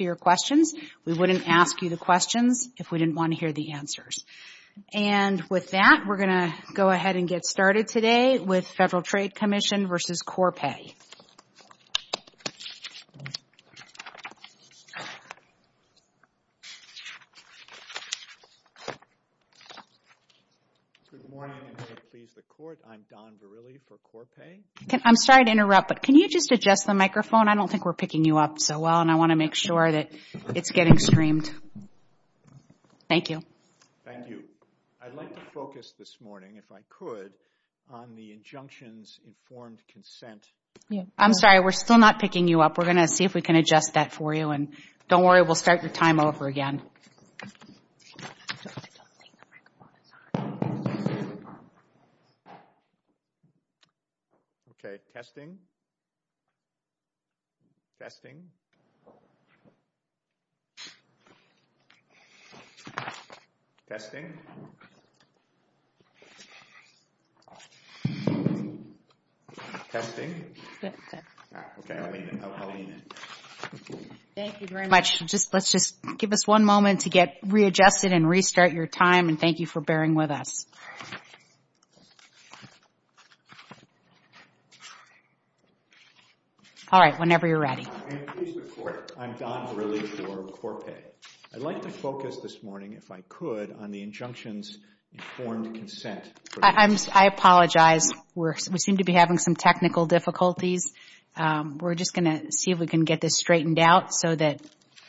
We wouldn't ask you the questions if we didn't want to hear the answers. And with that, we're going to go ahead and get started today with Federal Trade Commission v. Corpay. I'm sorry to interrupt, but can you just adjust the microphone? I don't think we're picking you up so well, and I want to make sure that it's getting streamed. Thank you. Thank you. I'd like to focus this morning, if I could, on the injunctions informed consent. I'm sorry, we're still not picking you up. We're going to see if we can adjust that for you. And don't worry, we'll start your time over again. Okay, testing. Testing. Testing. Testing. Thank you very much. Let's just give us one moment to get readjusted and restart your time, and thank you for bearing with us. All right, whenever you're ready. In the case of the Court, I'm Don Verrilli for Corpay. I'd like to focus this morning, if I could, on the injunctions informed consent. I apologize. We seem to be having some technical difficulties. We're just going to see if we can get this straightened out so that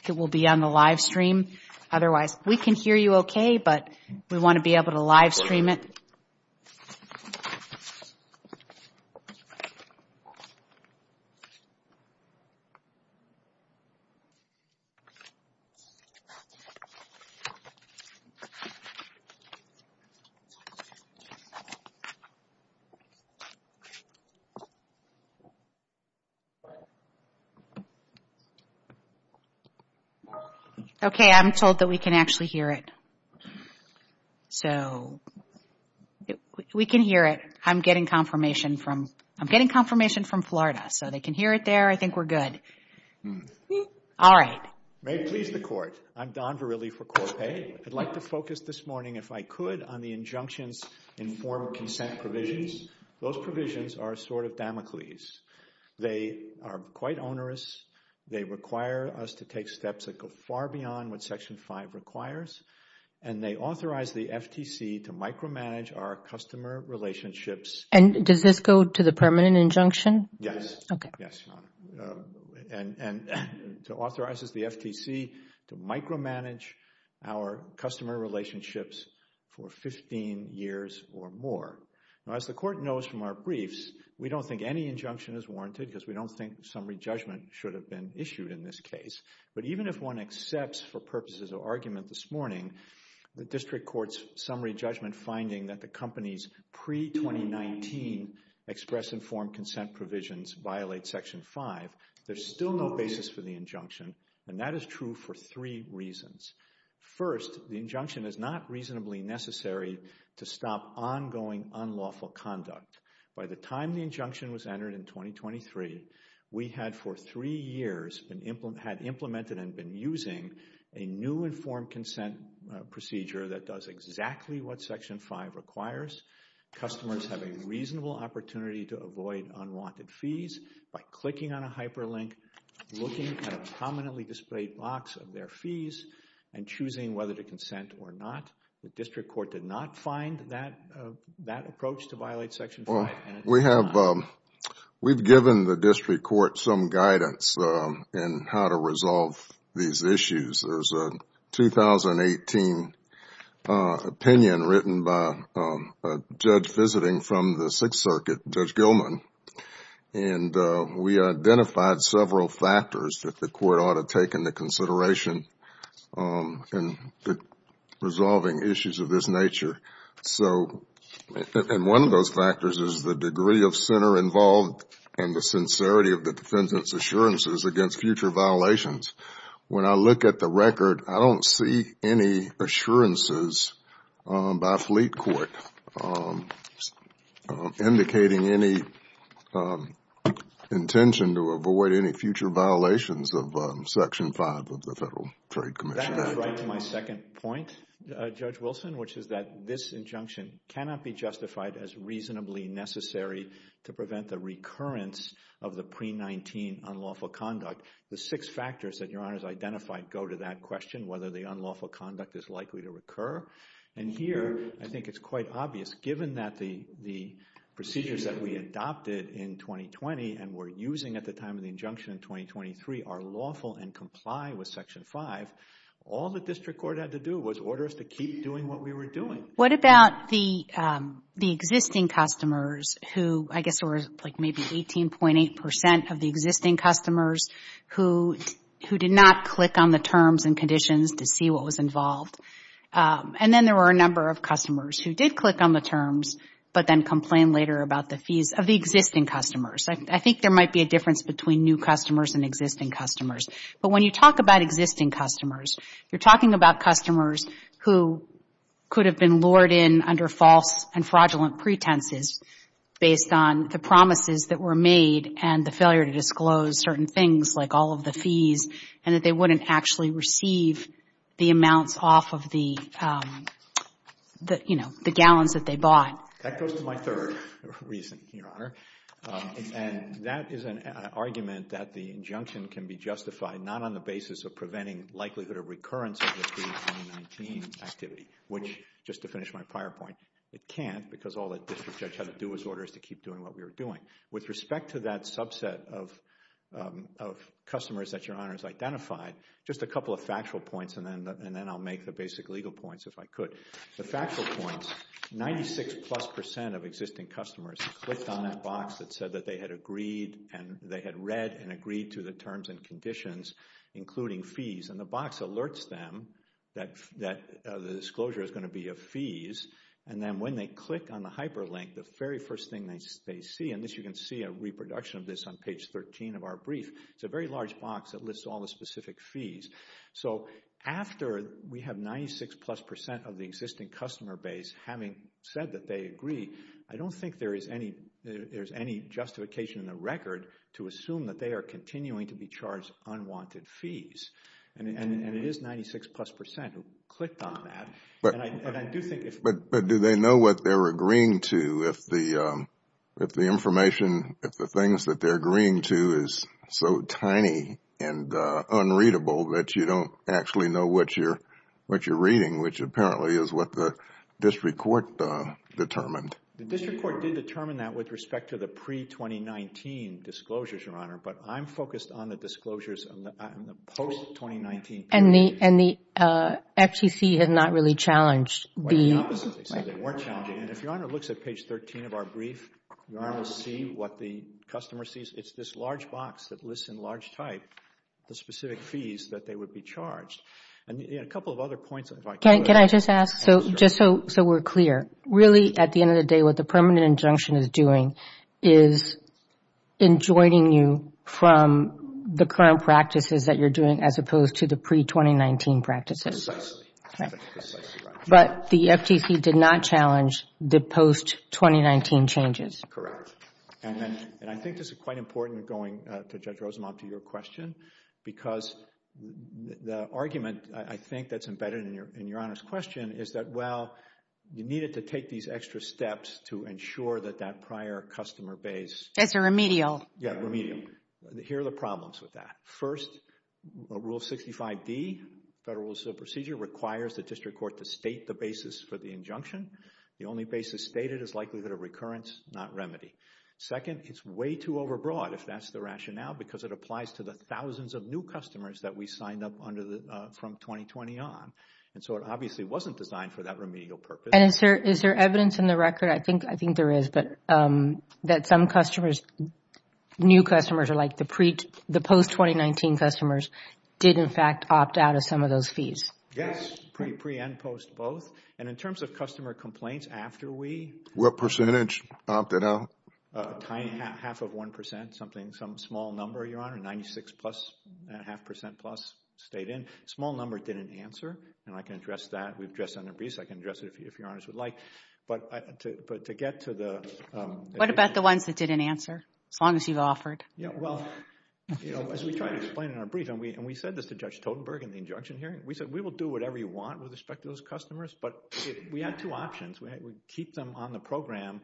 it will be on the live stream. Otherwise, we can hear you okay, but we want to be able to live stream it. Okay, I'm told that we can actually hear it. So, we can hear it. I'm getting confirmation from Florida, so they can hear it there. I think we're good. All right. May it please the Court. I'm Don Verrilli for Corpay. I'd like to focus this morning, if I could, on the injunctions informed consent provisions. Those provisions are sort of Damocles. They are quite onerous. They require us to take steps that go far beyond what Section 5 requires, and they authorize the FTC to micromanage our customer relationships. And does this go to the permanent injunction? Yes. Okay. Yes, Your Honor. And it authorizes the FTC to micromanage our customer relationships for 15 years or more. Now, as the Court knows from our briefs, we don't think any injunction is warranted because we don't think summary judgment should have been issued in this case. But even if one accepts, for purposes of argument this morning, the District Court's summary judgment finding that the company's pre-2019 express informed consent provisions violate Section 5, there's still no basis for the injunction. And that is true for three reasons. First, the injunction is not reasonably necessary to stop ongoing unlawful conduct. By the time the injunction was entered in 2023, we had for three years had implemented and been using a new informed consent procedure that does exactly what Section 5 requires. Customers have a reasonable opportunity to avoid unwanted fees by clicking on a hyperlink, looking at a prominently displayed box of their fees, and choosing whether to consent or not. The District Court did not find that approach to violate Section 5. We've given the District Court some guidance in how to resolve these issues. There's a 2018 opinion written by a judge visiting from the Sixth Circuit, Judge Gilman, and we identified several factors that the Court ought to take into consideration in resolving issues of this nature. And one of those factors is the degree of center involved and the sincerity of the defendant's assurances against future violations. When I look at the record, I don't see any assurances by Fleet Court indicating any intention to avoid any future violations of Section 5 of the Federal Trade Commission Act. That goes right to my second point, Judge Wilson, which is that this injunction cannot be justified as reasonably necessary to prevent the recurrence of the pre-19 unlawful conduct. The six factors that Your Honor has identified go to that question, whether the unlawful conduct is likely to recur. And here, I think it's quite obvious, given that the procedures that we adopted in 2020 and were using at the time of the injunction in 2023 are lawful and comply with Section 5, all the District Court had to do was order us to keep doing what we were doing. What about the existing customers who, I guess, were like maybe 18.8% of the existing customers who did not click on the terms and conditions to see what was involved? And then there were a number of customers who did click on the terms but then complained later about the fees of the existing customers. I think there might be a difference between new customers and existing customers. But when you talk about existing customers, you're talking about customers who could have been lured in under false and fraudulent pretenses based on the promises that were made and the failure to disclose certain things like all of the fees and that they wouldn't actually receive the amounts off of the, you know, the gallons that they bought. That goes to my third reason, Your Honor. And that is an argument that the injunction can be justified not on the basis of preventing likelihood of recurrence of the 2019 activity, which, just to finish my prior point, it can't because all that District Judge had to do was order us to keep doing what we were doing. With respect to that subset of customers that Your Honor has identified, just a couple of factual points and then I'll make the basic legal points if I could. The factual points, 96 plus percent of existing customers clicked on that box that said that they had agreed and they had read and agreed to the terms and conditions, including fees, and the box alerts them that the disclosure is going to be of fees. And then when they click on the hyperlink, the very first thing they see, and this you can see a reproduction of this on page 13 of our brief, it's a very large box that lists all the specific fees. So after we have 96 plus percent of the existing customer base having said that they agree, I don't think there is any justification in the record to assume that they are continuing to be charged unwanted fees. And it is 96 plus percent who clicked on that. But do they know what they're agreeing to if the information, if the things that they're agreeing to is so tiny and unreadable that you don't actually know what you're reading, which apparently is what the District Court determined. The District Court did determine that with respect to the pre-2019 disclosures, Your Honor, but I'm focused on the disclosures in the post-2019 period. And the FTC has not really challenged the The opposite, they said they weren't challenging. And if Your Honor looks at page 13 of our brief, Your Honor will see what the customer sees. It's this large box that lists in large type the specific fees that they would be charged. And a couple of other points if I could. Can I just ask, just so we're clear, really at the end of the day, what the permanent injunction is doing is enjoining you from the current practices that you're doing as opposed to the pre-2019 practices. But the FTC did not challenge the post-2019 changes. And I think this is quite important going to Judge Rosenbaum to your question because the argument I think that's embedded in Your Honor's question is that, well, you needed to take these extra steps to ensure that that prior customer base It's a remedial. Yeah, remedial. Here are the problems with that. First, Rule 65D, Federal Rules of Procedure, requires the District Court to state the basis for the injunction. The only basis stated is likelihood of recurrence, not remedy. Second, it's way too overbroad, if that's the rationale, because it applies to the thousands of new customers that we signed up from 2020 on. And so it obviously wasn't designed for that remedial purpose. And is there evidence in the record, I think there is, that some customers, new customers, or like the post-2019 customers, did in fact opt out of some of those fees? Yes, pre and post both. And in terms of customer complaints, after we What percentage opted out? Half of 1%, some small number, Your Honor, 96 plus, and a half percent plus stayed in. A small number didn't answer. And I can address that. We've addressed that in the briefs. I can address it if Your Honors would like. But to get to the What about the ones that didn't answer? As long as you've offered. Yeah, well, as we try to explain in our brief, and we said this to Judge Totenberg in the injunction hearing, we said we will do whatever you want with respect to those customers. But we had two options. We had to keep them on the program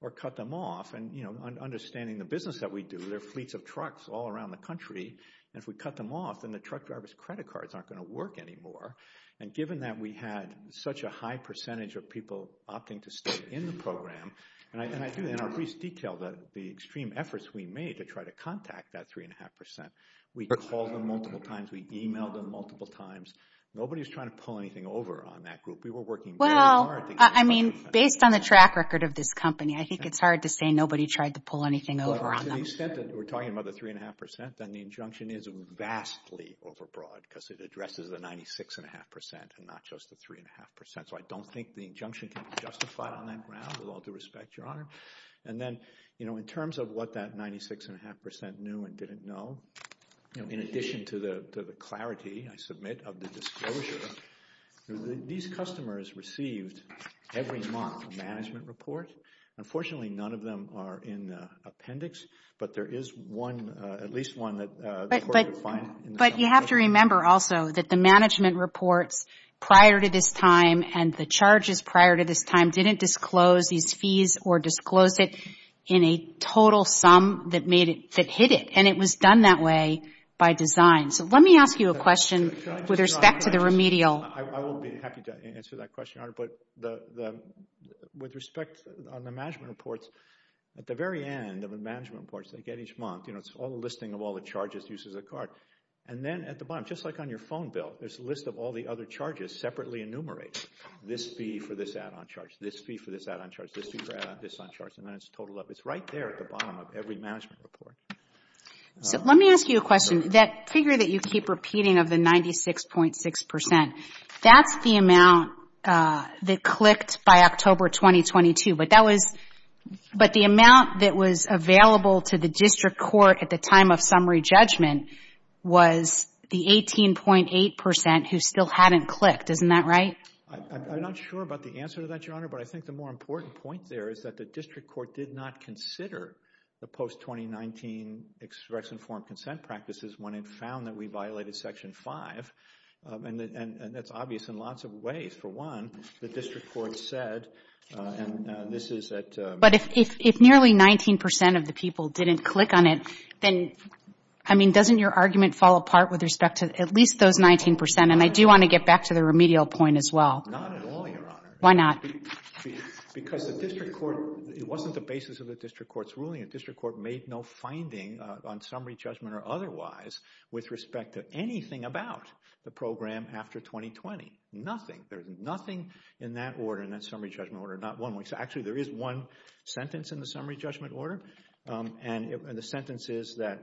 or cut them off. And understanding the business that we do, there are fleets of trucks all around the country. And if we cut them off, then the truck driver's credit cards aren't going to work anymore. And given that we had such a high percentage of people opting to stay in the program, and I do, in our briefs, detail the extreme efforts we made to try to contact that 3.5%. We called them multiple times. We emailed them multiple times. Nobody was trying to pull anything over on that group. We were working very hard. Well, I mean, based on the track record of this company, I think it's hard to say nobody tried to pull anything over on them. To the extent that we're talking about the 3.5%, then the injunction is vastly overbroad because it addresses the 96.5% and not just the 3.5%. So I don't think the injunction can be justified on that ground, with all due respect, Your Honor. And then in terms of what that 96.5% knew and didn't know, in addition to the clarity, I submit, of the disclosure, these customers received every month a management report. Unfortunately, none of them are in the appendix. But there is at least one that the court could find. But you have to remember also that the management reports prior to this time and the charges prior to this time didn't disclose these fees or disclose it in a total sum that hit it. And it was done that way by design. So let me ask you a question with respect to the remedial. I will be happy to answer that question, Your Honor. But with respect on the management reports, at the very end of the management reports they get each month, you know, it's all the listing of all the charges, uses of the card. And then at the bottom, just like on your phone bill, there's a list of all the other charges separately enumerated. This fee for this add-on charge, this fee for this add-on charge, this fee for this add-on charge. And then it's totaled up. It's right there at the bottom of every management report. So let me ask you a question. That figure that you keep repeating of the 96.6%, that's the amount that clicked by October 2022. But that was – but the amount that was available to the district court at the time of summary judgment was the 18.8% who still hadn't clicked. Isn't that right? I'm not sure about the answer to that, Your Honor. But I think the more important point there is that the district court did not consider the post-2019 extradition form consent practices when it found that we violated Section 5. And that's obvious in lots of ways. For one, the district court said, and this is at – But if nearly 19% of the people didn't click on it, then, I mean, doesn't your argument fall apart with respect to at least those 19%? And I do want to get back to the remedial point as well. Not at all, Your Honor. Why not? Because the district court – it wasn't the basis of the district court's ruling. The district court made no finding on summary judgment or otherwise with respect to anything about the program after 2020. Nothing. There's nothing in that order, in that summary judgment order. Actually, there is one sentence in the summary judgment order, and the sentence is that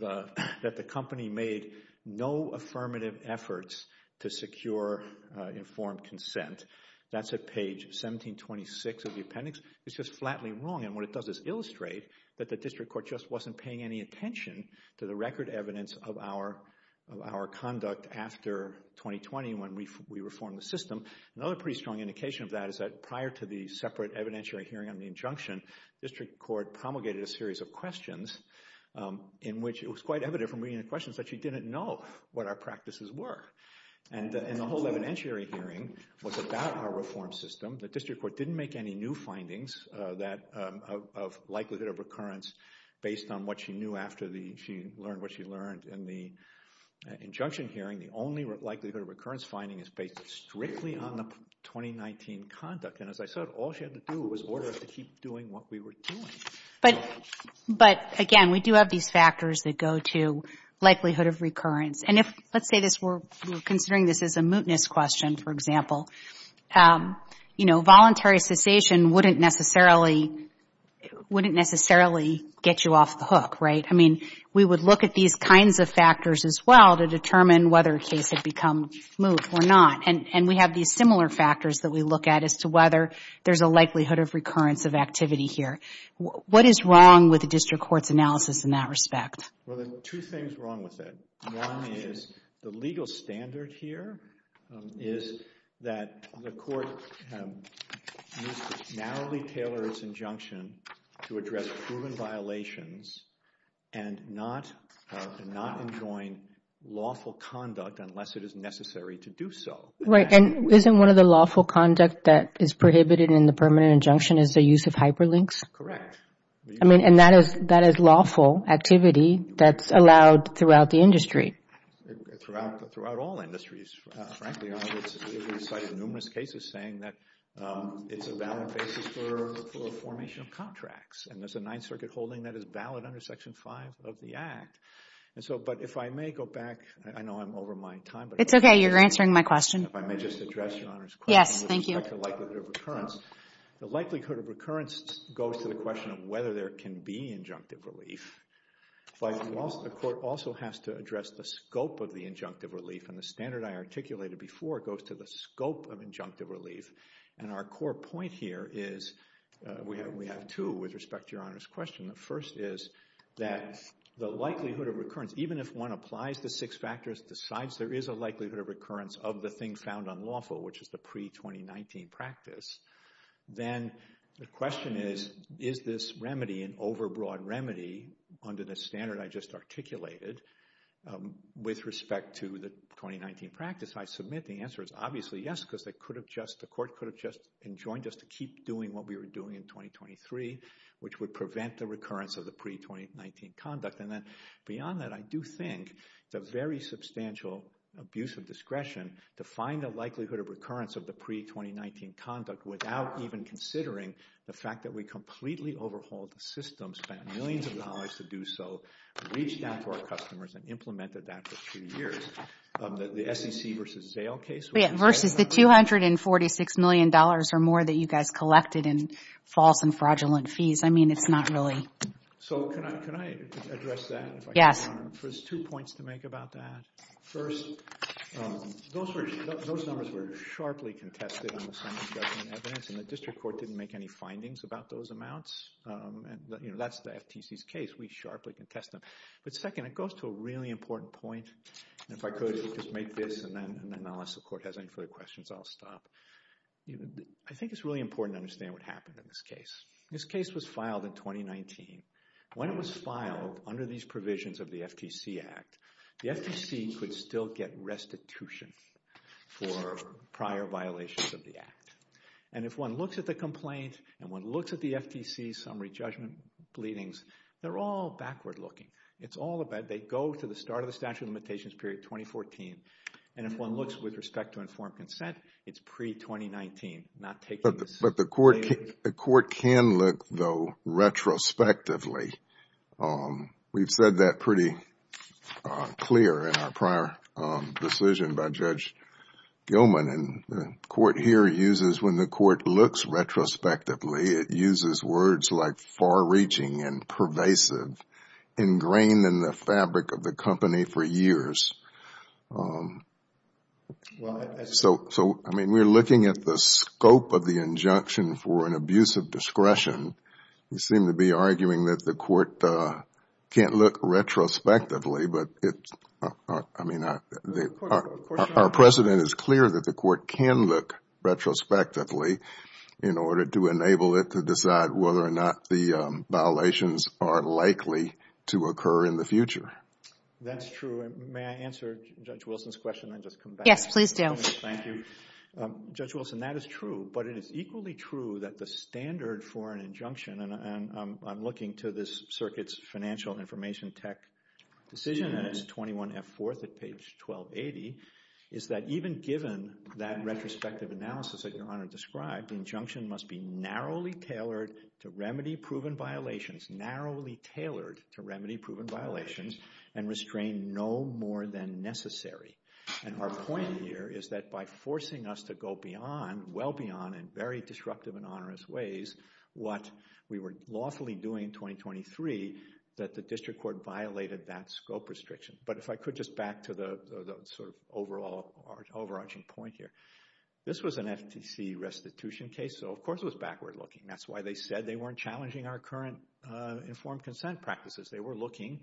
the company made no affirmative efforts to secure informed consent. That's at page 1726 of the appendix. It's just flatly wrong, and what it does is illustrate that the district court just wasn't paying any attention to the record evidence of our conduct after 2020 when we reformed the system. Another pretty strong indication of that is that prior to the separate evidentiary hearing on the injunction, the district court promulgated a series of questions in which it was quite evident from reading the questions that you didn't know what our practices were. And the whole evidentiary hearing was about our reform system. The district court didn't make any new findings of likelihood of recurrence based on what she knew after she learned what she learned in the injunction hearing. The only likelihood of recurrence finding is based strictly on the 2019 conduct, and as I said, all she had to do was order us to keep doing what we were doing. But, again, we do have these factors that go to likelihood of recurrence. And let's say we're considering this as a mootness question, for example. Voluntary cessation wouldn't necessarily get you off the hook, right? I mean, we would look at these kinds of factors as well to determine whether a case had become moot or not, and we have these similar factors that we look at as to whether there's a likelihood of recurrence of activity here. What is wrong with the district court's analysis in that respect? Well, there are two things wrong with it. One is the legal standard here is that the court needs to narrowly tailor its injunction to address proven violations and not enjoin lawful conduct unless it is necessary to do so. Right, and isn't one of the lawful conduct that is prohibited in the permanent injunction is the use of hyperlinks? Correct. I mean, and that is lawful activity that's allowed throughout the industry. Throughout all industries, frankly, Your Honor. We've cited numerous cases saying that it's a valid basis for formation of contracts, and there's a Ninth Circuit holding that is valid under Section 5 of the Act. But if I may go back, I know I'm over my time. It's okay, you're answering my question. If I may just address Your Honor's question. Yes, thank you. With respect to likelihood of recurrence. The likelihood of recurrence goes to the question of whether there can be injunctive relief, but the court also has to address the scope of the injunctive relief, and the standard I articulated before goes to the scope of injunctive relief. And our core point here is we have two with respect to Your Honor's question. The first is that the likelihood of recurrence, even if one applies the six factors, decides there is a likelihood of recurrence of the thing found unlawful, which is the pre-2019 practice, then the question is, is this remedy an overbroad remedy under the standard I just articulated with respect to the 2019 practice? I submit the answer is obviously yes, because the court could have just enjoined us to keep doing what we were doing in 2023, which would prevent the recurrence of the pre-2019 conduct. And then beyond that, I do think it's a very substantial abuse of discretion to find the likelihood of recurrence of the pre-2019 conduct without even considering the fact that we completely overhauled the system, spent millions of dollars to do so, reached out to our customers, and implemented that for two years. The SEC versus Zale case. Versus the $246 million or more that you guys collected in false and fraudulent fees. I mean, it's not really. So can I address that? Yes. There's two points to make about that. First, those numbers were sharply contested on the Senate Judgment Evidence, and the district court didn't make any findings about those amounts. That's the FTC's case. We sharply contest them. But second, it goes to a really important point. And if I could just make this, and then unless the court has any further questions, I'll stop. I think it's really important to understand what happened in this case. This case was filed in 2019. When it was filed under these provisions of the FTC Act, the FTC could still get restitution for prior violations of the Act. And if one looks at the complaint, and one looks at the FTC's summary judgment readings, they're all backward looking. It's all about they go to the start of the statute of limitations period 2014. And if one looks with respect to informed consent, it's pre-2019, not taking this later. But the court can look, though, retrospectively. We've said that pretty clear in our prior decision by Judge Gilman. And the court here uses, when the court looks retrospectively, it uses words like far-reaching and pervasive, ingrained in the fabric of the company for years. So, I mean, we're looking at the scope of the injunction for an abuse of discretion. You seem to be arguing that the court can't look retrospectively. But, I mean, our precedent is clear that the court can look retrospectively in order to enable it to decide whether or not the violations are likely to occur in the future. That's true. May I answer Judge Wilson's question and just come back? Yes, please do. Thank you. Judge Wilson, that is true. But it is equally true that the standard for an injunction, and I'm looking to this circuit's financial information tech decision, and it's 21F4 at page 1280, is that even given that retrospective analysis that Your Honor described, the injunction must be narrowly tailored to remedy proven violations, narrowly tailored to remedy proven violations, and restrain no more than necessary. And our point here is that by forcing us to go beyond, well beyond in very disruptive and onerous ways, what we were lawfully doing in 2023, that the district court violated that scope restriction. But if I could just back to the sort of overarching point here. This was an FTC restitution case, so of course it was backward looking. That's why they said they weren't challenging our current informed consent practices. They were looking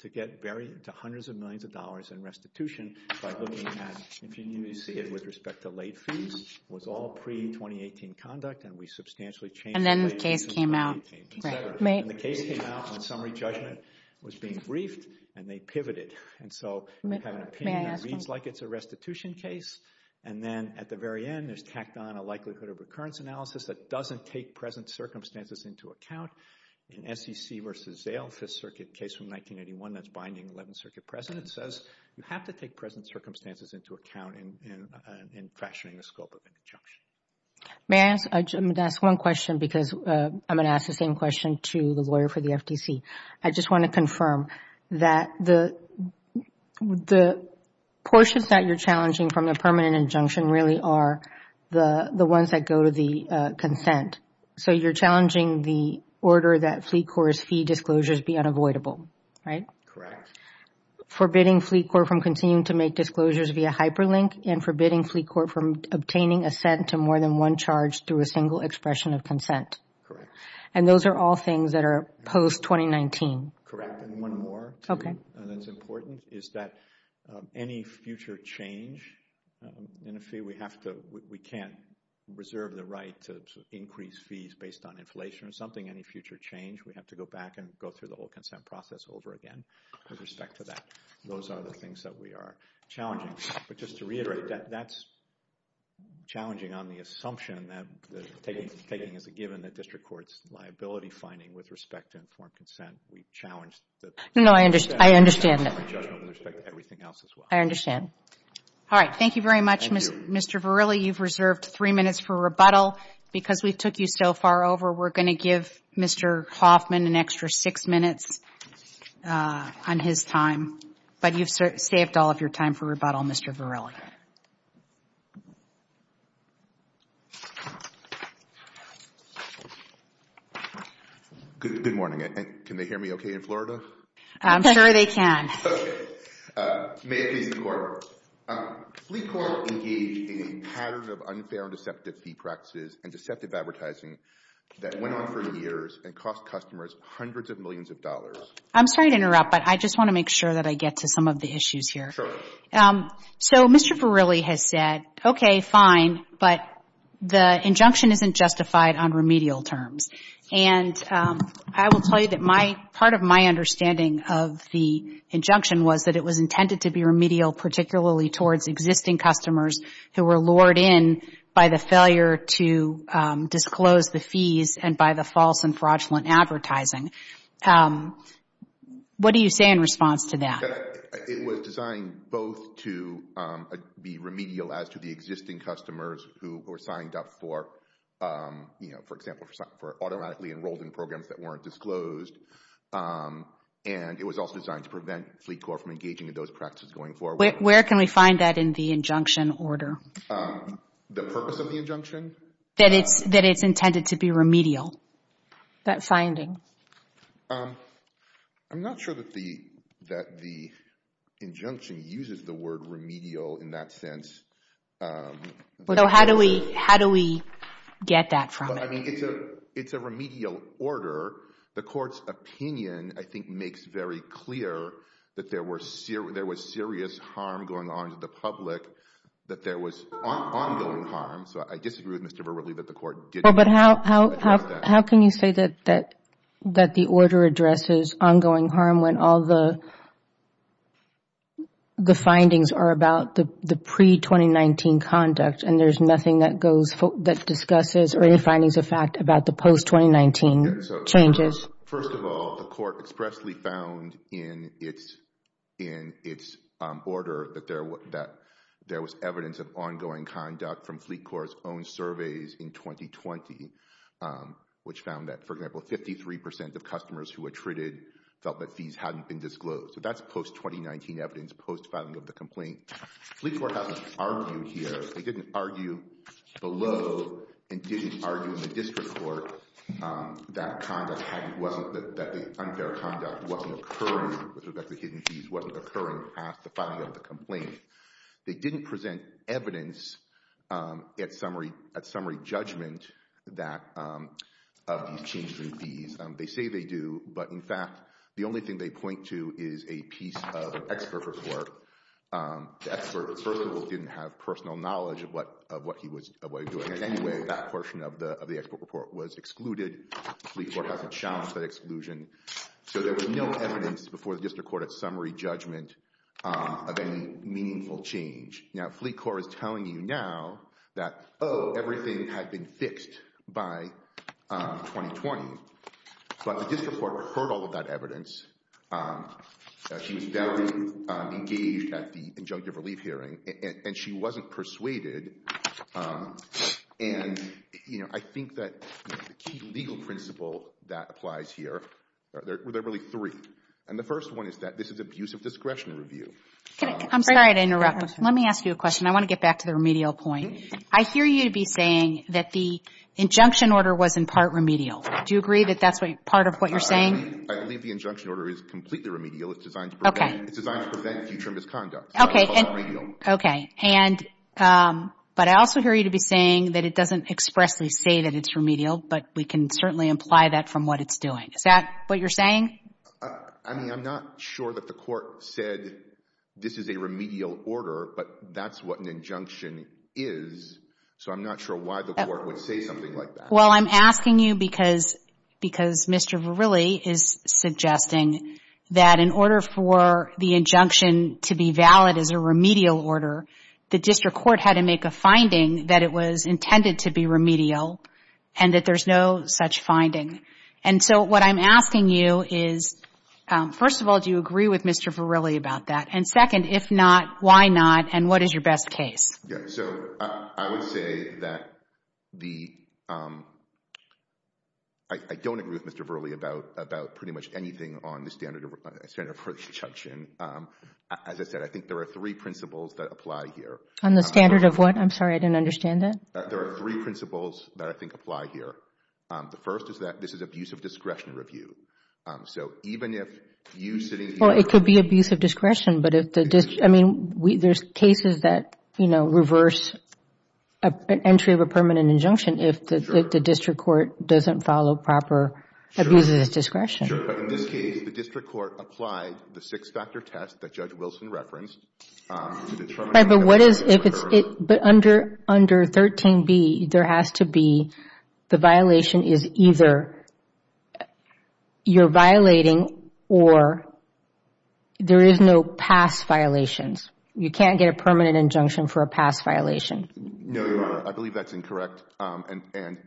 to get hundreds of millions of dollars in restitution by looking at, if you see it with respect to late fees, it was all pre-2018 conduct, and we substantially changed. And then the case came out. And the case came out when summary judgment was being briefed, and they pivoted. And so you have an opinion that reads like it's a restitution case, and then at the very end, there's tacked on a likelihood of recurrence analysis that doesn't take present circumstances into account. In SEC v. Zale, Fifth Circuit case from 1981, that's binding 11th Circuit precedent, says you have to take present circumstances into account in fracturing the scope of an injunction. May I ask one question, because I'm going to ask the same question to the lawyer for the FTC. I just want to confirm that the portions that you're challenging from the permanent injunction really are the ones that go to the consent. So you're challenging the order that Fleet Corps' fee disclosures be unavoidable, right? Correct. Forbidding Fleet Corps from continuing to make disclosures via hyperlink and forbidding Fleet Corps from obtaining a cent to more than one charge through a single expression of consent. Correct. And those are all things that are post-2019. Correct. And one more thing that's important is that any future change in a fee, we can't reserve the right to increase fees based on inflation or something. Any future change, we have to go back and go through the whole consent process over again with respect to that. Those are the things that we are challenging. But just to reiterate, that's challenging on the assumption that taking as a given that district court's liability finding with respect to informed consent, we've challenged that. No, I understand. With respect to everything else as well. I understand. All right, thank you very much, Mr. Varela. You've reserved three minutes for rebuttal. Because we took you so far over, we're going to give Mr. Hoffman an extra six minutes on his time. But you've saved all of your time for rebuttal, Mr. Varela. Good morning. Can they hear me okay in Florida? I'm sure they can. Okay. May it please the Court. Fleet Court engaged in a pattern of unfair and deceptive fee practices and deceptive advertising that went on for years and cost customers hundreds of millions of dollars. I'm sorry to interrupt, but I just want to make sure that I get to some of the issues here. Sure. So Mr. Varela has said, okay, fine, but the injunction isn't justified on remedial terms. And I will tell you that part of my understanding of the injunction was that it was intended to be remedial, particularly towards existing customers who were lured in by the failure to disclose the fees and by the false and fraudulent advertising. What do you say in response to that? It was designed both to be remedial as to the existing customers who were signed up for, you know, for example, for automatically enrolled in programs that weren't disclosed, and it was also designed to prevent Fleet Court from engaging in those practices going forward. Where can we find that in the injunction order? The purpose of the injunction? That it's intended to be remedial. That finding. I'm not sure that the injunction uses the word remedial in that sense. So how do we get that from it? I mean, it's a remedial order. The Court's opinion, I think, makes very clear that there was serious harm going on to the public, that there was ongoing harm. So I disagree with Mr. Verrilli that the Court did not address that. How can you say that the order addresses ongoing harm when all the findings are about the pre-2019 conduct and there's nothing that discusses or any findings of fact about the post-2019 changes? First of all, the Court expressly found in its order that there was evidence of ongoing conduct from Fleet Court's own surveys in 2020, which found that, for example, 53% of customers who were treated felt that fees hadn't been disclosed. So that's post-2019 evidence, post-filing of the complaint. Fleet Court hasn't argued here. They didn't argue below and didn't argue in the district court that the unfair conduct wasn't occurring with respect to hidden fees, wasn't occurring past the filing of the complaint. They didn't present evidence at summary judgment of these changes in fees. They say they do. But, in fact, the only thing they point to is a piece of expert report. The expert, first of all, didn't have personal knowledge of what he was doing. In any way, that portion of the expert report was excluded. Fleet Court hasn't challenged that exclusion. So there was no evidence before the district court at summary judgment of any meaningful change. Now, Fleet Court is telling you now that, oh, everything had been fixed by 2020. But the district court heard all of that evidence. She was very engaged at the injunctive relief hearing. And she wasn't persuaded. And, you know, I think that the key legal principle that applies here, there are really three. And the first one is that this is abuse of discretion review. I'm sorry to interrupt. Let me ask you a question. I want to get back to the remedial point. I hear you be saying that the injunction order was in part remedial. Do you agree that that's part of what you're saying? I believe the injunction order is completely remedial. It's designed to prevent future misconduct. Okay. But I also hear you to be saying that it doesn't expressly say that it's remedial, but we can certainly imply that from what it's doing. Is that what you're saying? I mean, I'm not sure that the court said this is a remedial order, but that's what an injunction is. So I'm not sure why the court would say something like that. Well, I'm asking you because Mr. Verrilli is suggesting that in order for the injunction to be valid as a remedial order, the district court had to make a finding that it was intended to be remedial and that there's no such finding. And so what I'm asking you is, first of all, do you agree with Mr. Verrilli about that? And, second, if not, why not? And what is your best case? Yeah, so I would say that the ‑‑ I don't agree with Mr. Verrilli about pretty much anything on the standard for injunction. As I said, I think there are three principles that apply here. On the standard of what? I'm sorry, I didn't understand that. There are three principles that I think apply here. The first is that this is abuse of discretion review. So even if you sitting here ‑‑ Well, it could be abuse of discretion, but if the ‑‑ I mean, there's cases that, you know, reverse an entry of a permanent injunction if the district court doesn't follow proper abuse of discretion. Sure, but in this case, the district court applied the six-factor test that Judge Wilson referenced. But what is, if it's ‑‑ but under 13B, there has to be the violation is either you're violating or there is no past violations. You can't get a permanent injunction for a past violation. No, Your Honor, I believe that's incorrect. And,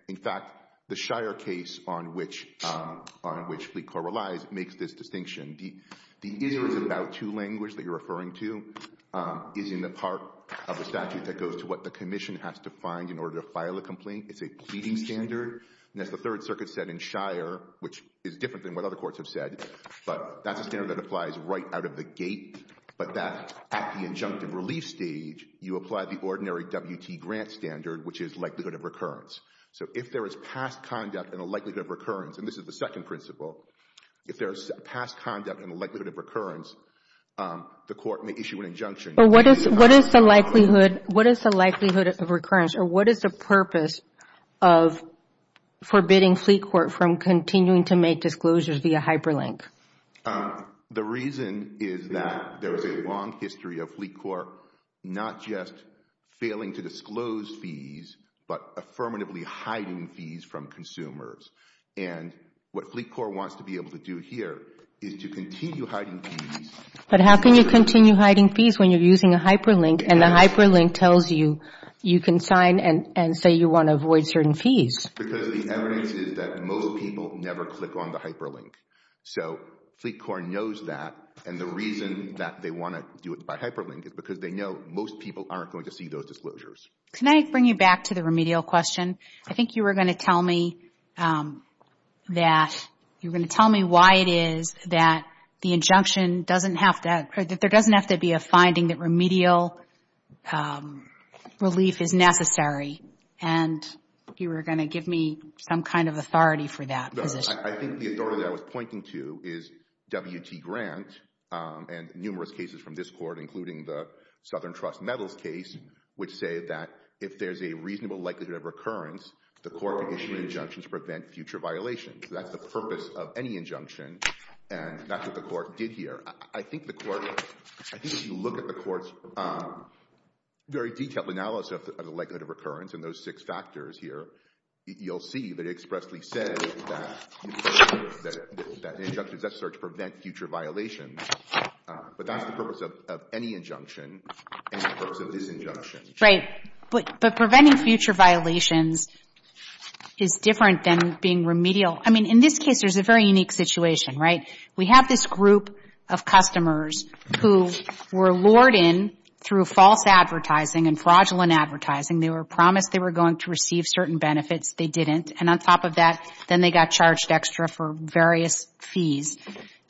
in fact, the Shire case on which Fleet Corps relies makes this distinction. The is or is about to language that you're referring to is in the part of the statute that goes to what the commission has to find in order to file a complaint. It's a pleading standard. And as the Third Circuit said in Shire, which is different than what other courts have said, but that's a standard that applies right out of the gate, but that at the injunctive relief stage, you apply the ordinary WT grant standard, which is likelihood of recurrence. So if there is past conduct and a likelihood of recurrence, and this is the second principle, if there is past conduct and likelihood of recurrence, the court may issue an injunction. But what is the likelihood of recurrence or what is the purpose of forbidding Fleet Corps from continuing to make disclosures via hyperlink? The reason is that there is a long history of Fleet Corps not just failing to disclose fees but affirmatively hiding fees from consumers. And what Fleet Corps wants to be able to do here is to continue hiding fees. But how can you continue hiding fees when you're using a hyperlink and the hyperlink tells you you can sign and say you want to avoid certain fees? Because the evidence is that most people never click on the hyperlink. So Fleet Corps knows that, and the reason that they want to do it by hyperlink is because they know most people aren't going to see those disclosures. Can I bring you back to the remedial question? I think you were going to tell me that you were going to tell me why it is that the injunction doesn't have to or that there doesn't have to be a finding that remedial relief is necessary, and you were going to give me some kind of authority for that position. I think the authority I was pointing to is W.T. Grant and numerous cases from this court, including the Southern Trust Metals case, which say that if there's a reasonable likelihood of recurrence, the court can issue an injunction to prevent future violations. That's the purpose of any injunction, and that's what the court did here. I think you look at the court's very detailed analysis of the likelihood of recurrence and those six factors here, you'll see that it expressly says that an injunction is necessary to prevent future violations. But that's the purpose of any injunction, and the purpose of this injunction. Right, but preventing future violations is different than being remedial. I mean, in this case, there's a very unique situation, right? We have this group of customers who were lured in through false advertising and fraudulent advertising. They were promised they were going to receive certain benefits. They didn't, and on top of that, then they got charged extra for various fees.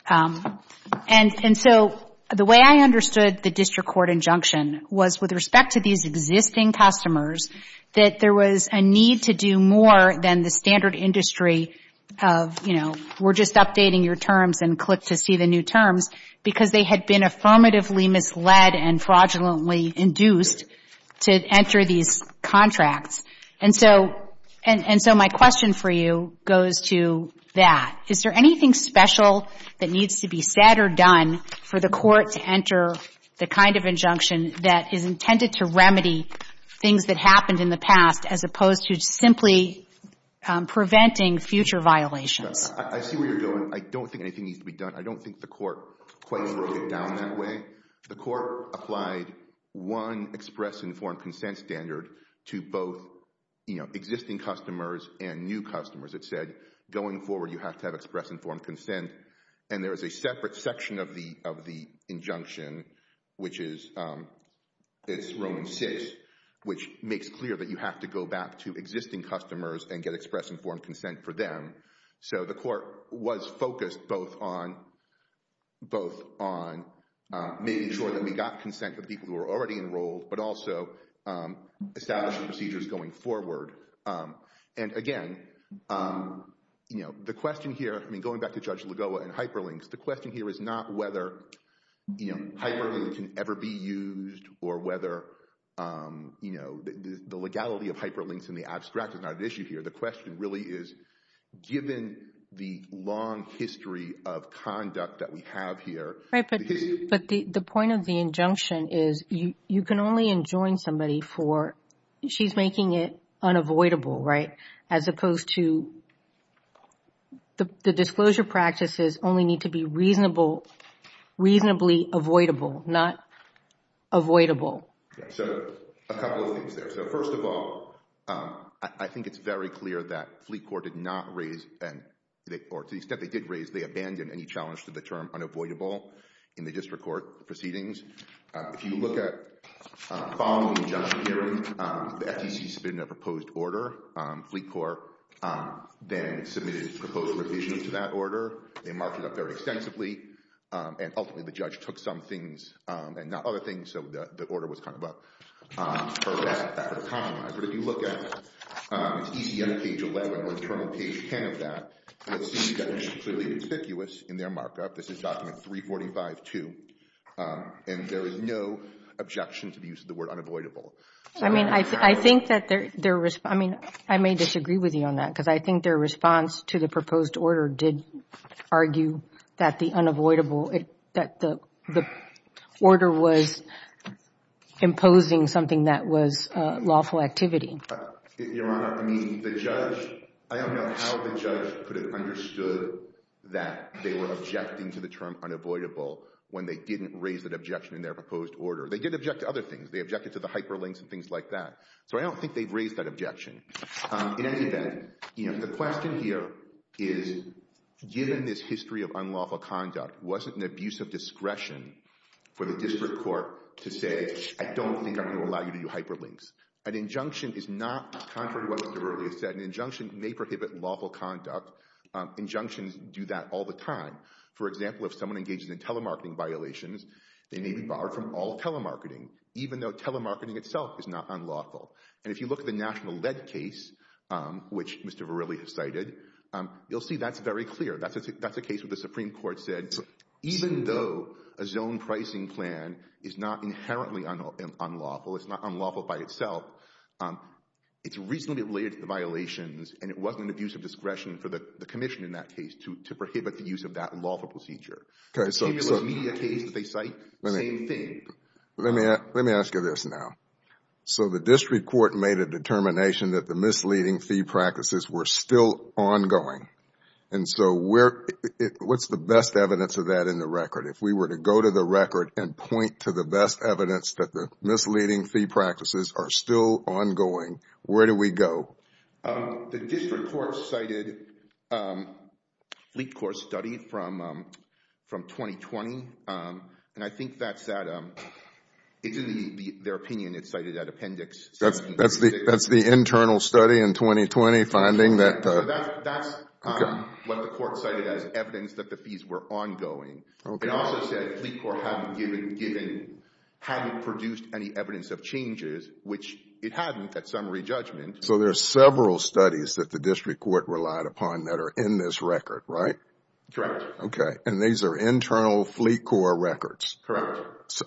And so the way I understood the district court injunction was with respect to these existing customers, that there was a need to do more than the standard industry of, you know, we're just updating your terms and click to see the new terms, because they had been affirmatively misled and fraudulently induced to enter these contracts. And so my question for you goes to that. Is there anything special that needs to be said or done for the court to enter the kind of injunction that is intended to remedy things that happened in the past as opposed to simply preventing future violations? I see where you're going. I don't think anything needs to be done. I don't think the court quite broke it down that way. The court applied one express and informed consent standard to both, you know, existing customers and new customers. It said going forward, you have to have express informed consent. And there is a separate section of the injunction, which is, it's Roman 6, which makes clear that you have to go back to existing customers and get express informed consent for them. So the court was focused both on making sure that we got consent from people who were already enrolled, but also establishing procedures going forward. And again, you know, the question here, I mean, going back to Judge Lagoa and hyperlinks, the question here is not whether, you know, hyperlink can ever be used or whether, you know, the legality of hyperlinks in the abstract is not an issue here. The question really is given the long history of conduct that we have here. Right, but the point of the injunction is you can only enjoin somebody for, she's making it unavoidable, right, as opposed to the disclosure practices only need to be reasonable, reasonably avoidable, not avoidable. So a couple of things there. So first of all, I think it's very clear that Fleet Court did not raise, or to the extent they did raise, they abandoned any challenge to the term unavoidable in the district court proceedings. If you look at following the injunction hearing, the FTC submitted a proposed order. Fleet Court then submitted a proposed revision to that order. They marked it up very extensively, and ultimately the judge took some things and not other things, so the order was kind of up for that compromise. But if you look at ECM page 11 or the current page 10 of that, you'll see that it's completely ambiguous in their markup. This is document 345-2, and there is no objection to the use of the word unavoidable. I mean, I think that their response, I mean, I may disagree with you on that, because I think their response to the proposed order did argue that the unavoidable, that the order was imposing something that was lawful activity. Your Honor, I mean, the judge, I don't know how the judge could have understood that they were objecting to the term unavoidable when they didn't raise that objection in their proposed order. They did object to other things. They objected to the hyperlinks and things like that. So I don't think they've raised that objection. In any event, you know, the question here is, given this history of unlawful conduct, was it an abuse of discretion for the district court to say, I don't think I'm going to allow you to do hyperlinks? An injunction is not contrary to what Mr. Verrilli has said. An injunction may prohibit lawful conduct. Injunctions do that all the time. For example, if someone engages in telemarketing violations, they may be barred from all telemarketing, even though telemarketing itself is not unlawful. And if you look at the National Lead case, which Mr. Verrilli has cited, you'll see that's very clear. That's a case where the Supreme Court said, even though a zone pricing plan is not inherently unlawful, it's not unlawful by itself, it's reasonably related to the violations, and it wasn't an abuse of discretion for the commission in that case to prohibit the use of that lawful procedure. The stimulus media case that they cite, same thing. Let me ask you this now. So the district court made a determination that the misleading fee practices were still ongoing. And so what's the best evidence of that in the record? If we were to go to the record and point to the best evidence that the misleading fee practices are still ongoing, where do we go? The district court cited a Fleet Corps study from 2020, and I think that's at, in their opinion, it's cited at Appendix 1736. That's the internal study in 2020 finding that. So that's what the court cited as evidence that the fees were ongoing. It also said Fleet Corps hadn't given, hadn't produced any evidence of changes, which it hadn't at summary judgment. So there are several studies that the district court relied upon that are in this record, right? Correct. Okay. And these are internal Fleet Corps records. Correct.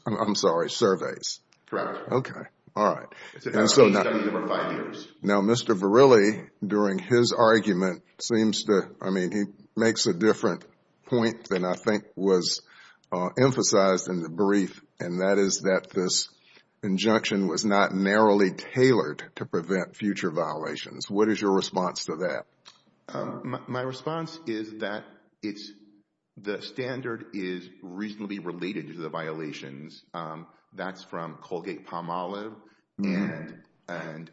I'm sorry, surveys. Correct. Okay. All right. It's an internal study over five years. Now, Mr. Verrilli, during his argument, seems to, I mean, he makes a different point than I think was emphasized in the brief, and that is that this injunction was not narrowly tailored to prevent future violations. What is your response to that? My response is that it's, the standard is reasonably related to the violations. That's from Colgate-Palmolive and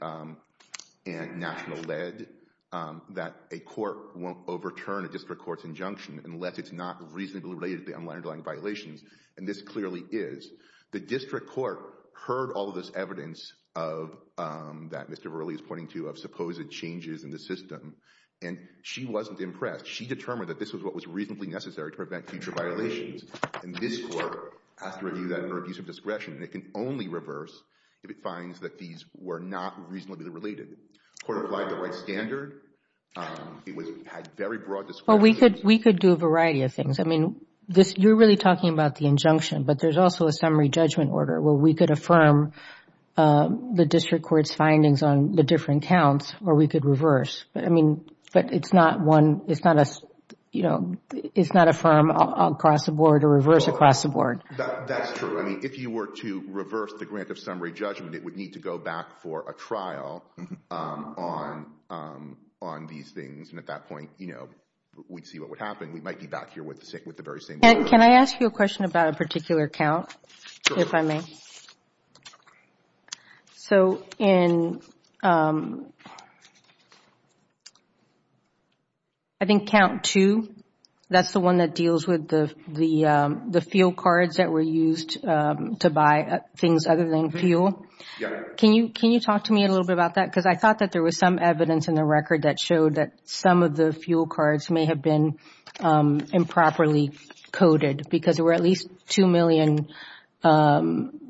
National Lead, that a court won't overturn a district court's injunction unless it's not reasonably related to the underlying violations. And this clearly is. The district court heard all of this evidence of, that Mr. Verrilli is pointing to, of supposed changes in the system, and she wasn't impressed. She determined that this was what was reasonably necessary to prevent future violations. And this court has to review that under abuse of discretion, and it can only reverse if it finds that these were not reasonably related. The court applied the right standard. It had very broad discretion. Well, we could do a variety of things. I mean, you're really talking about the injunction, but there's also a summary judgment order where we could affirm the district court's findings on the different counts, or we could reverse. I mean, but it's not one, it's not a, you know, it's not affirm across the board or reverse across the board. That's true. I mean, if you were to reverse the grant of summary judgment, it would need to go back for a trial on these things. And at that point, you know, we'd see what would happen. We might be back here with the very same order. Can I ask you a question about a particular count, if I may? So in I think count two, that's the one that deals with the fuel cards that were used to buy things other than fuel. Can you talk to me a little bit about that? Because I thought that there was some evidence in the record that showed that some of the fuel cards may have been improperly coded because there were at least 2 million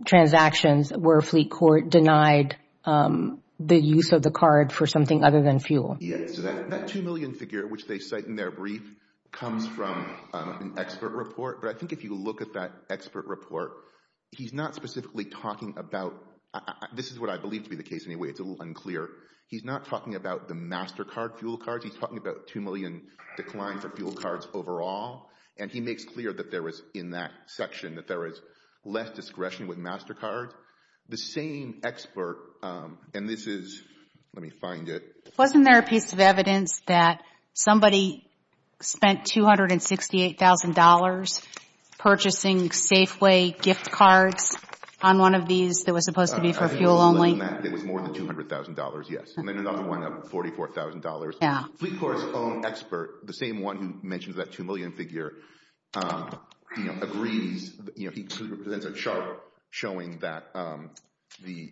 transactions where a fleet court denied the use of the card for something other than fuel. Yes. That 2 million figure, which they cite in their brief, comes from an expert report. But I think if you look at that expert report, he's not specifically talking about, this is what I believe to be the case anyway, it's a little unclear. He's not talking about the MasterCard fuel cards. He's talking about 2 million decline for fuel cards overall. And he makes clear that there was, in that section, that there was less discretion with MasterCard. The same expert, and this is, let me find it. Wasn't there a piece of evidence that somebody spent $268,000 purchasing Safeway gift cards on one of these that was supposed to be for fuel only? It was more than $200,000, yes. And then another one of $44,000. Fleet court's own expert, the same one who mentioned that 2 million figure, agrees. He presents a chart showing that the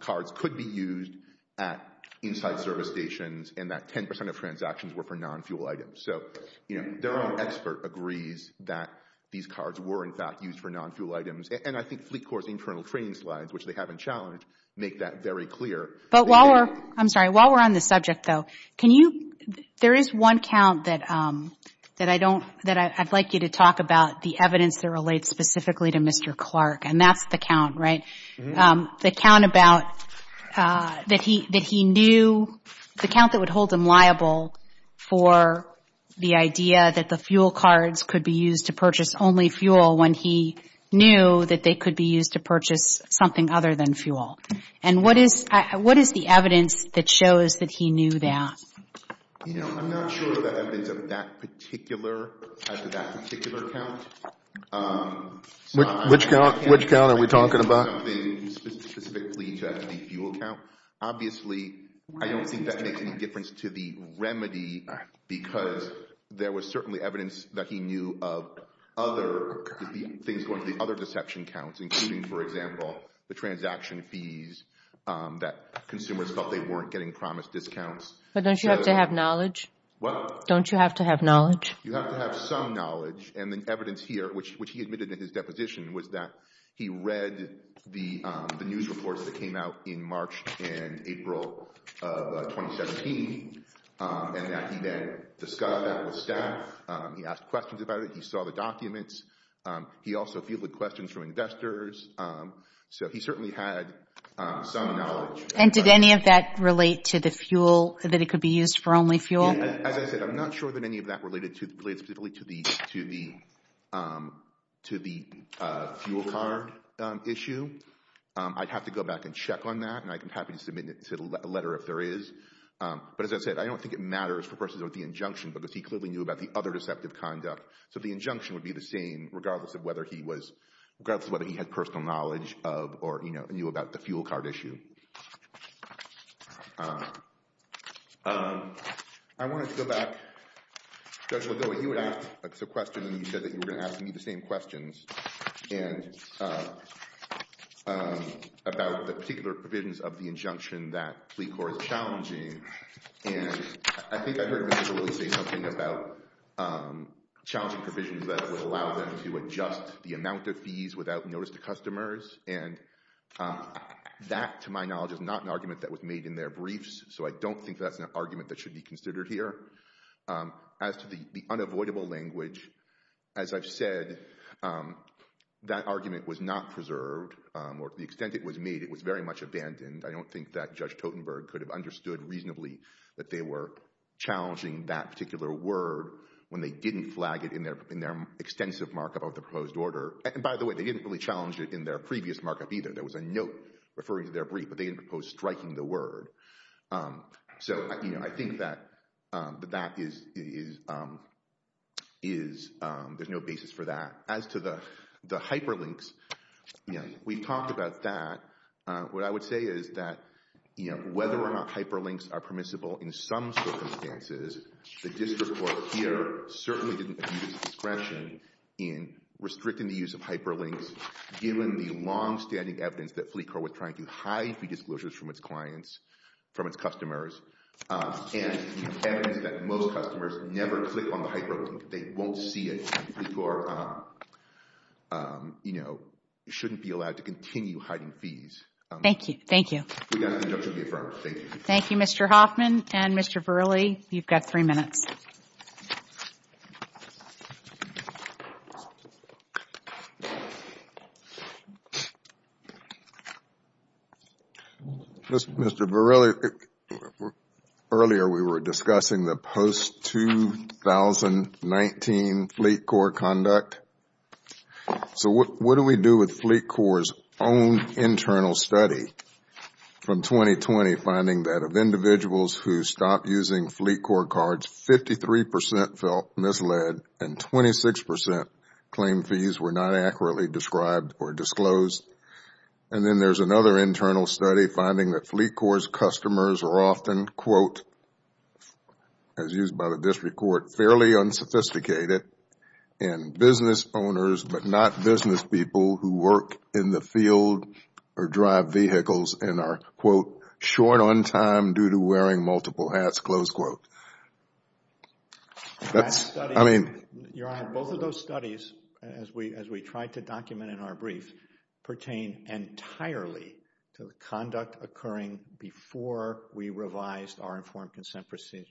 cards could be used at inside service stations and that 10% of transactions were for non-fuel items. So their own expert agrees that these cards were, in fact, used for non-fuel items. And I think fleet court's internal training slides, which they haven't challenged, make that very clear. But while we're, I'm sorry, while we're on the subject, though, can you, there is one count that I don't, that I'd like you to talk about the evidence that relates specifically to Mr. Clark. And that's the count, right? The count about, that he knew, the count that would hold him liable for the idea that the fuel cards could be used to purchase only fuel when he knew that they could be used to purchase something other than fuel. And what is, what is the evidence that shows that he knew that? You know, I'm not sure of the evidence of that particular, as of that particular count. Which count, which count are we talking about? Something specifically to the fuel count. Obviously, I don't think that makes any difference to the remedy because there was certainly evidence that he knew of other, things going to the other deception counts, including, for example, the transaction fees that consumers felt they weren't getting promised discounts. But don't you have to have knowledge? What? Don't you have to have knowledge? You have to have some knowledge. And the evidence here, which he admitted in his deposition, was that he read the news reports that came out in March and April of 2017. And that he then discussed that with staff. He asked questions about it. He saw the documents. He also fielded questions from investors. So he certainly had some knowledge. And did any of that relate to the fuel, that it could be used for only fuel? As I said, I'm not sure that any of that related to, related specifically to the, to the, to the fuel card issue. I'd have to go back and check on that. And I'd be happy to submit a letter if there is. But as I said, I don't think it matters for persons with the injunction because he clearly knew about the other deceptive conduct. So the injunction would be the same regardless of whether he was, regardless of whether he had personal knowledge of or, you know, knew about the fuel card issue. I wanted to go back. Judge Legault, you had asked a question and you said that you were going to ask me the same questions. And about the particular provisions of the injunction that plea court is challenging. And I think I heard Mr. Wood say something about challenging provisions that would allow them to adjust the amount of fees without notice to customers. And that, to my knowledge, is not an argument that was made in their briefs. So I don't think that's an argument that should be considered here. As to the unavoidable language, as I've said, that argument was not preserved. Or to the extent it was made, it was very much abandoned. I don't think that Judge Totenberg could have understood reasonably that they were challenging that particular word when they didn't flag it in their extensive markup of the proposed order. And by the way, they didn't really challenge it in their previous markup either. There was a note referring to their brief, but they didn't propose striking the word. So, you know, I think that that is, there's no basis for that. As to the hyperlinks, you know, we've talked about that. What I would say is that, you know, whether or not hyperlinks are permissible in some circumstances, the district court here certainly didn't abuse discretion in restricting the use of hyperlinks, given the longstanding evidence that plea court was trying to hide fee disclosures from its clients, from its customers, and the evidence that most customers never click on the hyperlink. They won't see it. And plea court, you know, shouldn't be allowed to continue hiding fees. Thank you. Thank you. Thank you, Mr. Hoffman and Mr. Verrilli. You've got three minutes. Mr. Verrilli, earlier we were discussing the post-2019 Fleet Corps conduct. So what do we do with Fleet Corps' own internal study from 2020, finding that of individuals who stopped using Fleet Corps cards, 53% felt misled and 26% claimed fees were not accurately described or disclosed. And then there's another internal study finding that Fleet Corps' customers are often, quote, as used by the district court, fairly unsophisticated, and business owners but not business people who work in the field or drive vehicles and are, quote, short on time due to wearing multiple hats, close quote. That's, I mean. Your Honor, both of those studies, as we tried to document in our brief, pertain entirely to the conduct occurring before we revised our informed consent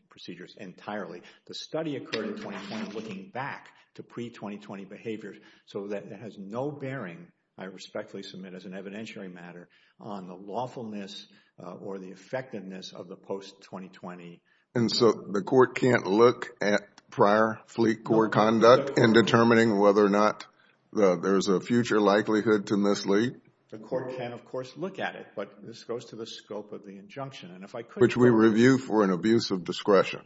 procedures entirely. The study occurred in 2020 looking back to pre-2020 behavior so that it has no bearing, I respectfully submit as an evidentiary matter, on the lawfulness or the effectiveness of the post-2020. And so the court can't look at prior Fleet Corps conduct in determining whether or not there is a future likelihood to mislead? The court can, of course, look at it, but this goes to the scope of the injunction. Which we review for an abuse of discretion.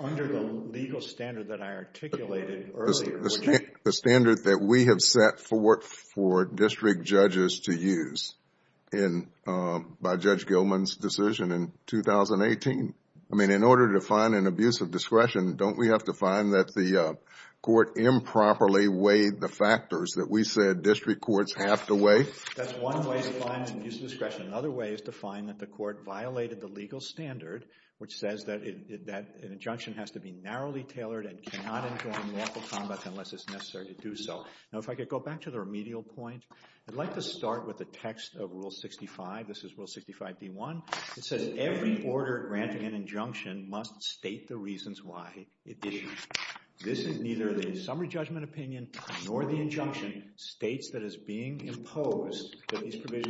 Under the legal standard that I articulated earlier. The standard that we have set for district judges to use by Judge Gilman's decision in 2018. I mean, in order to find an abuse of discretion, don't we have to find that the court improperly weighed the factors that we said district courts have to weigh? That's one way to find an abuse of discretion. Another way is to find that the court violated the legal standard, which says that an injunction has to be narrowly tailored and cannot inform lawful conduct unless it's necessary to do so. Now, if I could go back to the remedial point. I'd like to start with the text of Rule 65. This is Rule 65d1. It says every order granting an injunction must state the reasons why it did. This is neither the summary judgment opinion nor the injunction states that these provisions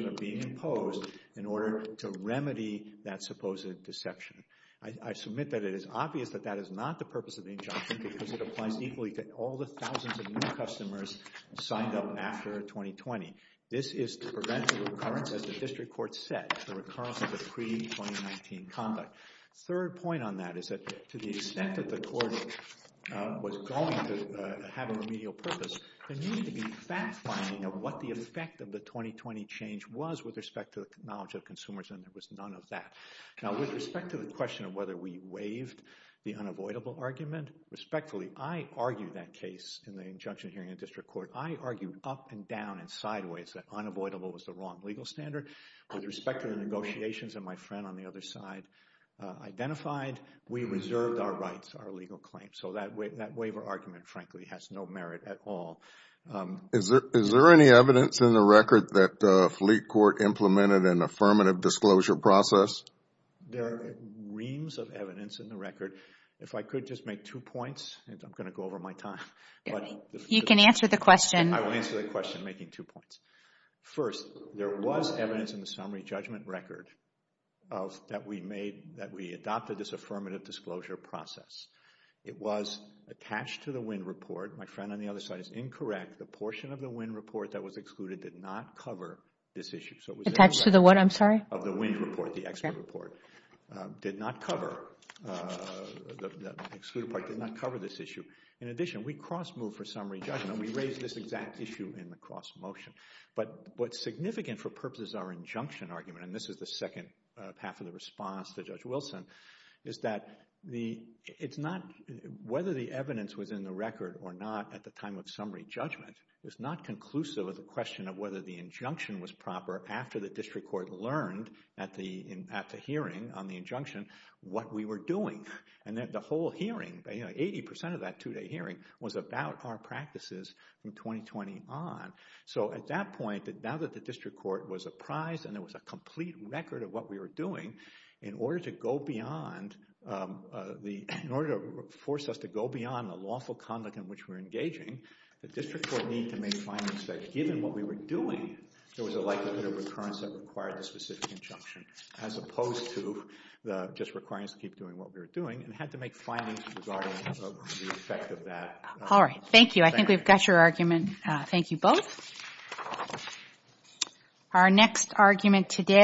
are being imposed in order to remedy that supposed deception. I submit that it is obvious that that is not the purpose of the injunction because it applies equally to all the thousands of new customers signed up after 2020. This is to prevent the recurrence, as the district court said, the recurrence of the pre-2019 conduct. Third point on that is that to the extent that the court was going to have a remedial purpose, there needed to be fact-finding of what the effect of the 2020 change was with respect to the knowledge of consumers, and there was none of that. Now, with respect to the question of whether we waived the unavoidable argument, respectfully, I argued that case in the injunction hearing in district court. I argued up and down and sideways that unavoidable was the wrong legal standard. With respect to the negotiations that my friend on the other side identified, we reserved our rights, our legal claims. So that waiver argument, frankly, has no merit at all. Is there any evidence in the record that Fleet Court implemented an affirmative disclosure process? There are reams of evidence in the record. If I could just make two points, and I'm going to go over my time. You can answer the question. I will answer the question making two points. First, there was evidence in the summary judgment record that we adopted this affirmative disclosure process. It was attached to the WIND report. My friend on the other side is incorrect. The portion of the WIND report that was excluded did not cover this issue. Attached to the what? I'm sorry? Of the WIND report, the expert report. Did not cover. The excluded part did not cover this issue. In addition, we cross-moved for summary judgment. We raised this exact issue in the cross-motion. But what's significant for purposes of our injunction argument, and this is the second half of the response to Judge Wilson, is that whether the evidence was in the record or not at the time of summary judgment is not conclusive of the question of whether the injunction was proper after the district court learned at the hearing on the injunction what we were doing. And the whole hearing, 80% of that two-day hearing, was about our practices from 2020 on. So at that point, now that the district court was apprised and there was a complete record of what we were doing, in order to force us to go beyond the lawful conduct in which we were engaging, the district court needed to make findings that given what we were doing, there was a likelihood of recurrence that required a specific injunction as opposed to the just requirements to keep doing what we were doing, and had to make findings regarding the effect of that. All right. Thank you. I think we've got your argument. Thank you both. Our next argument today...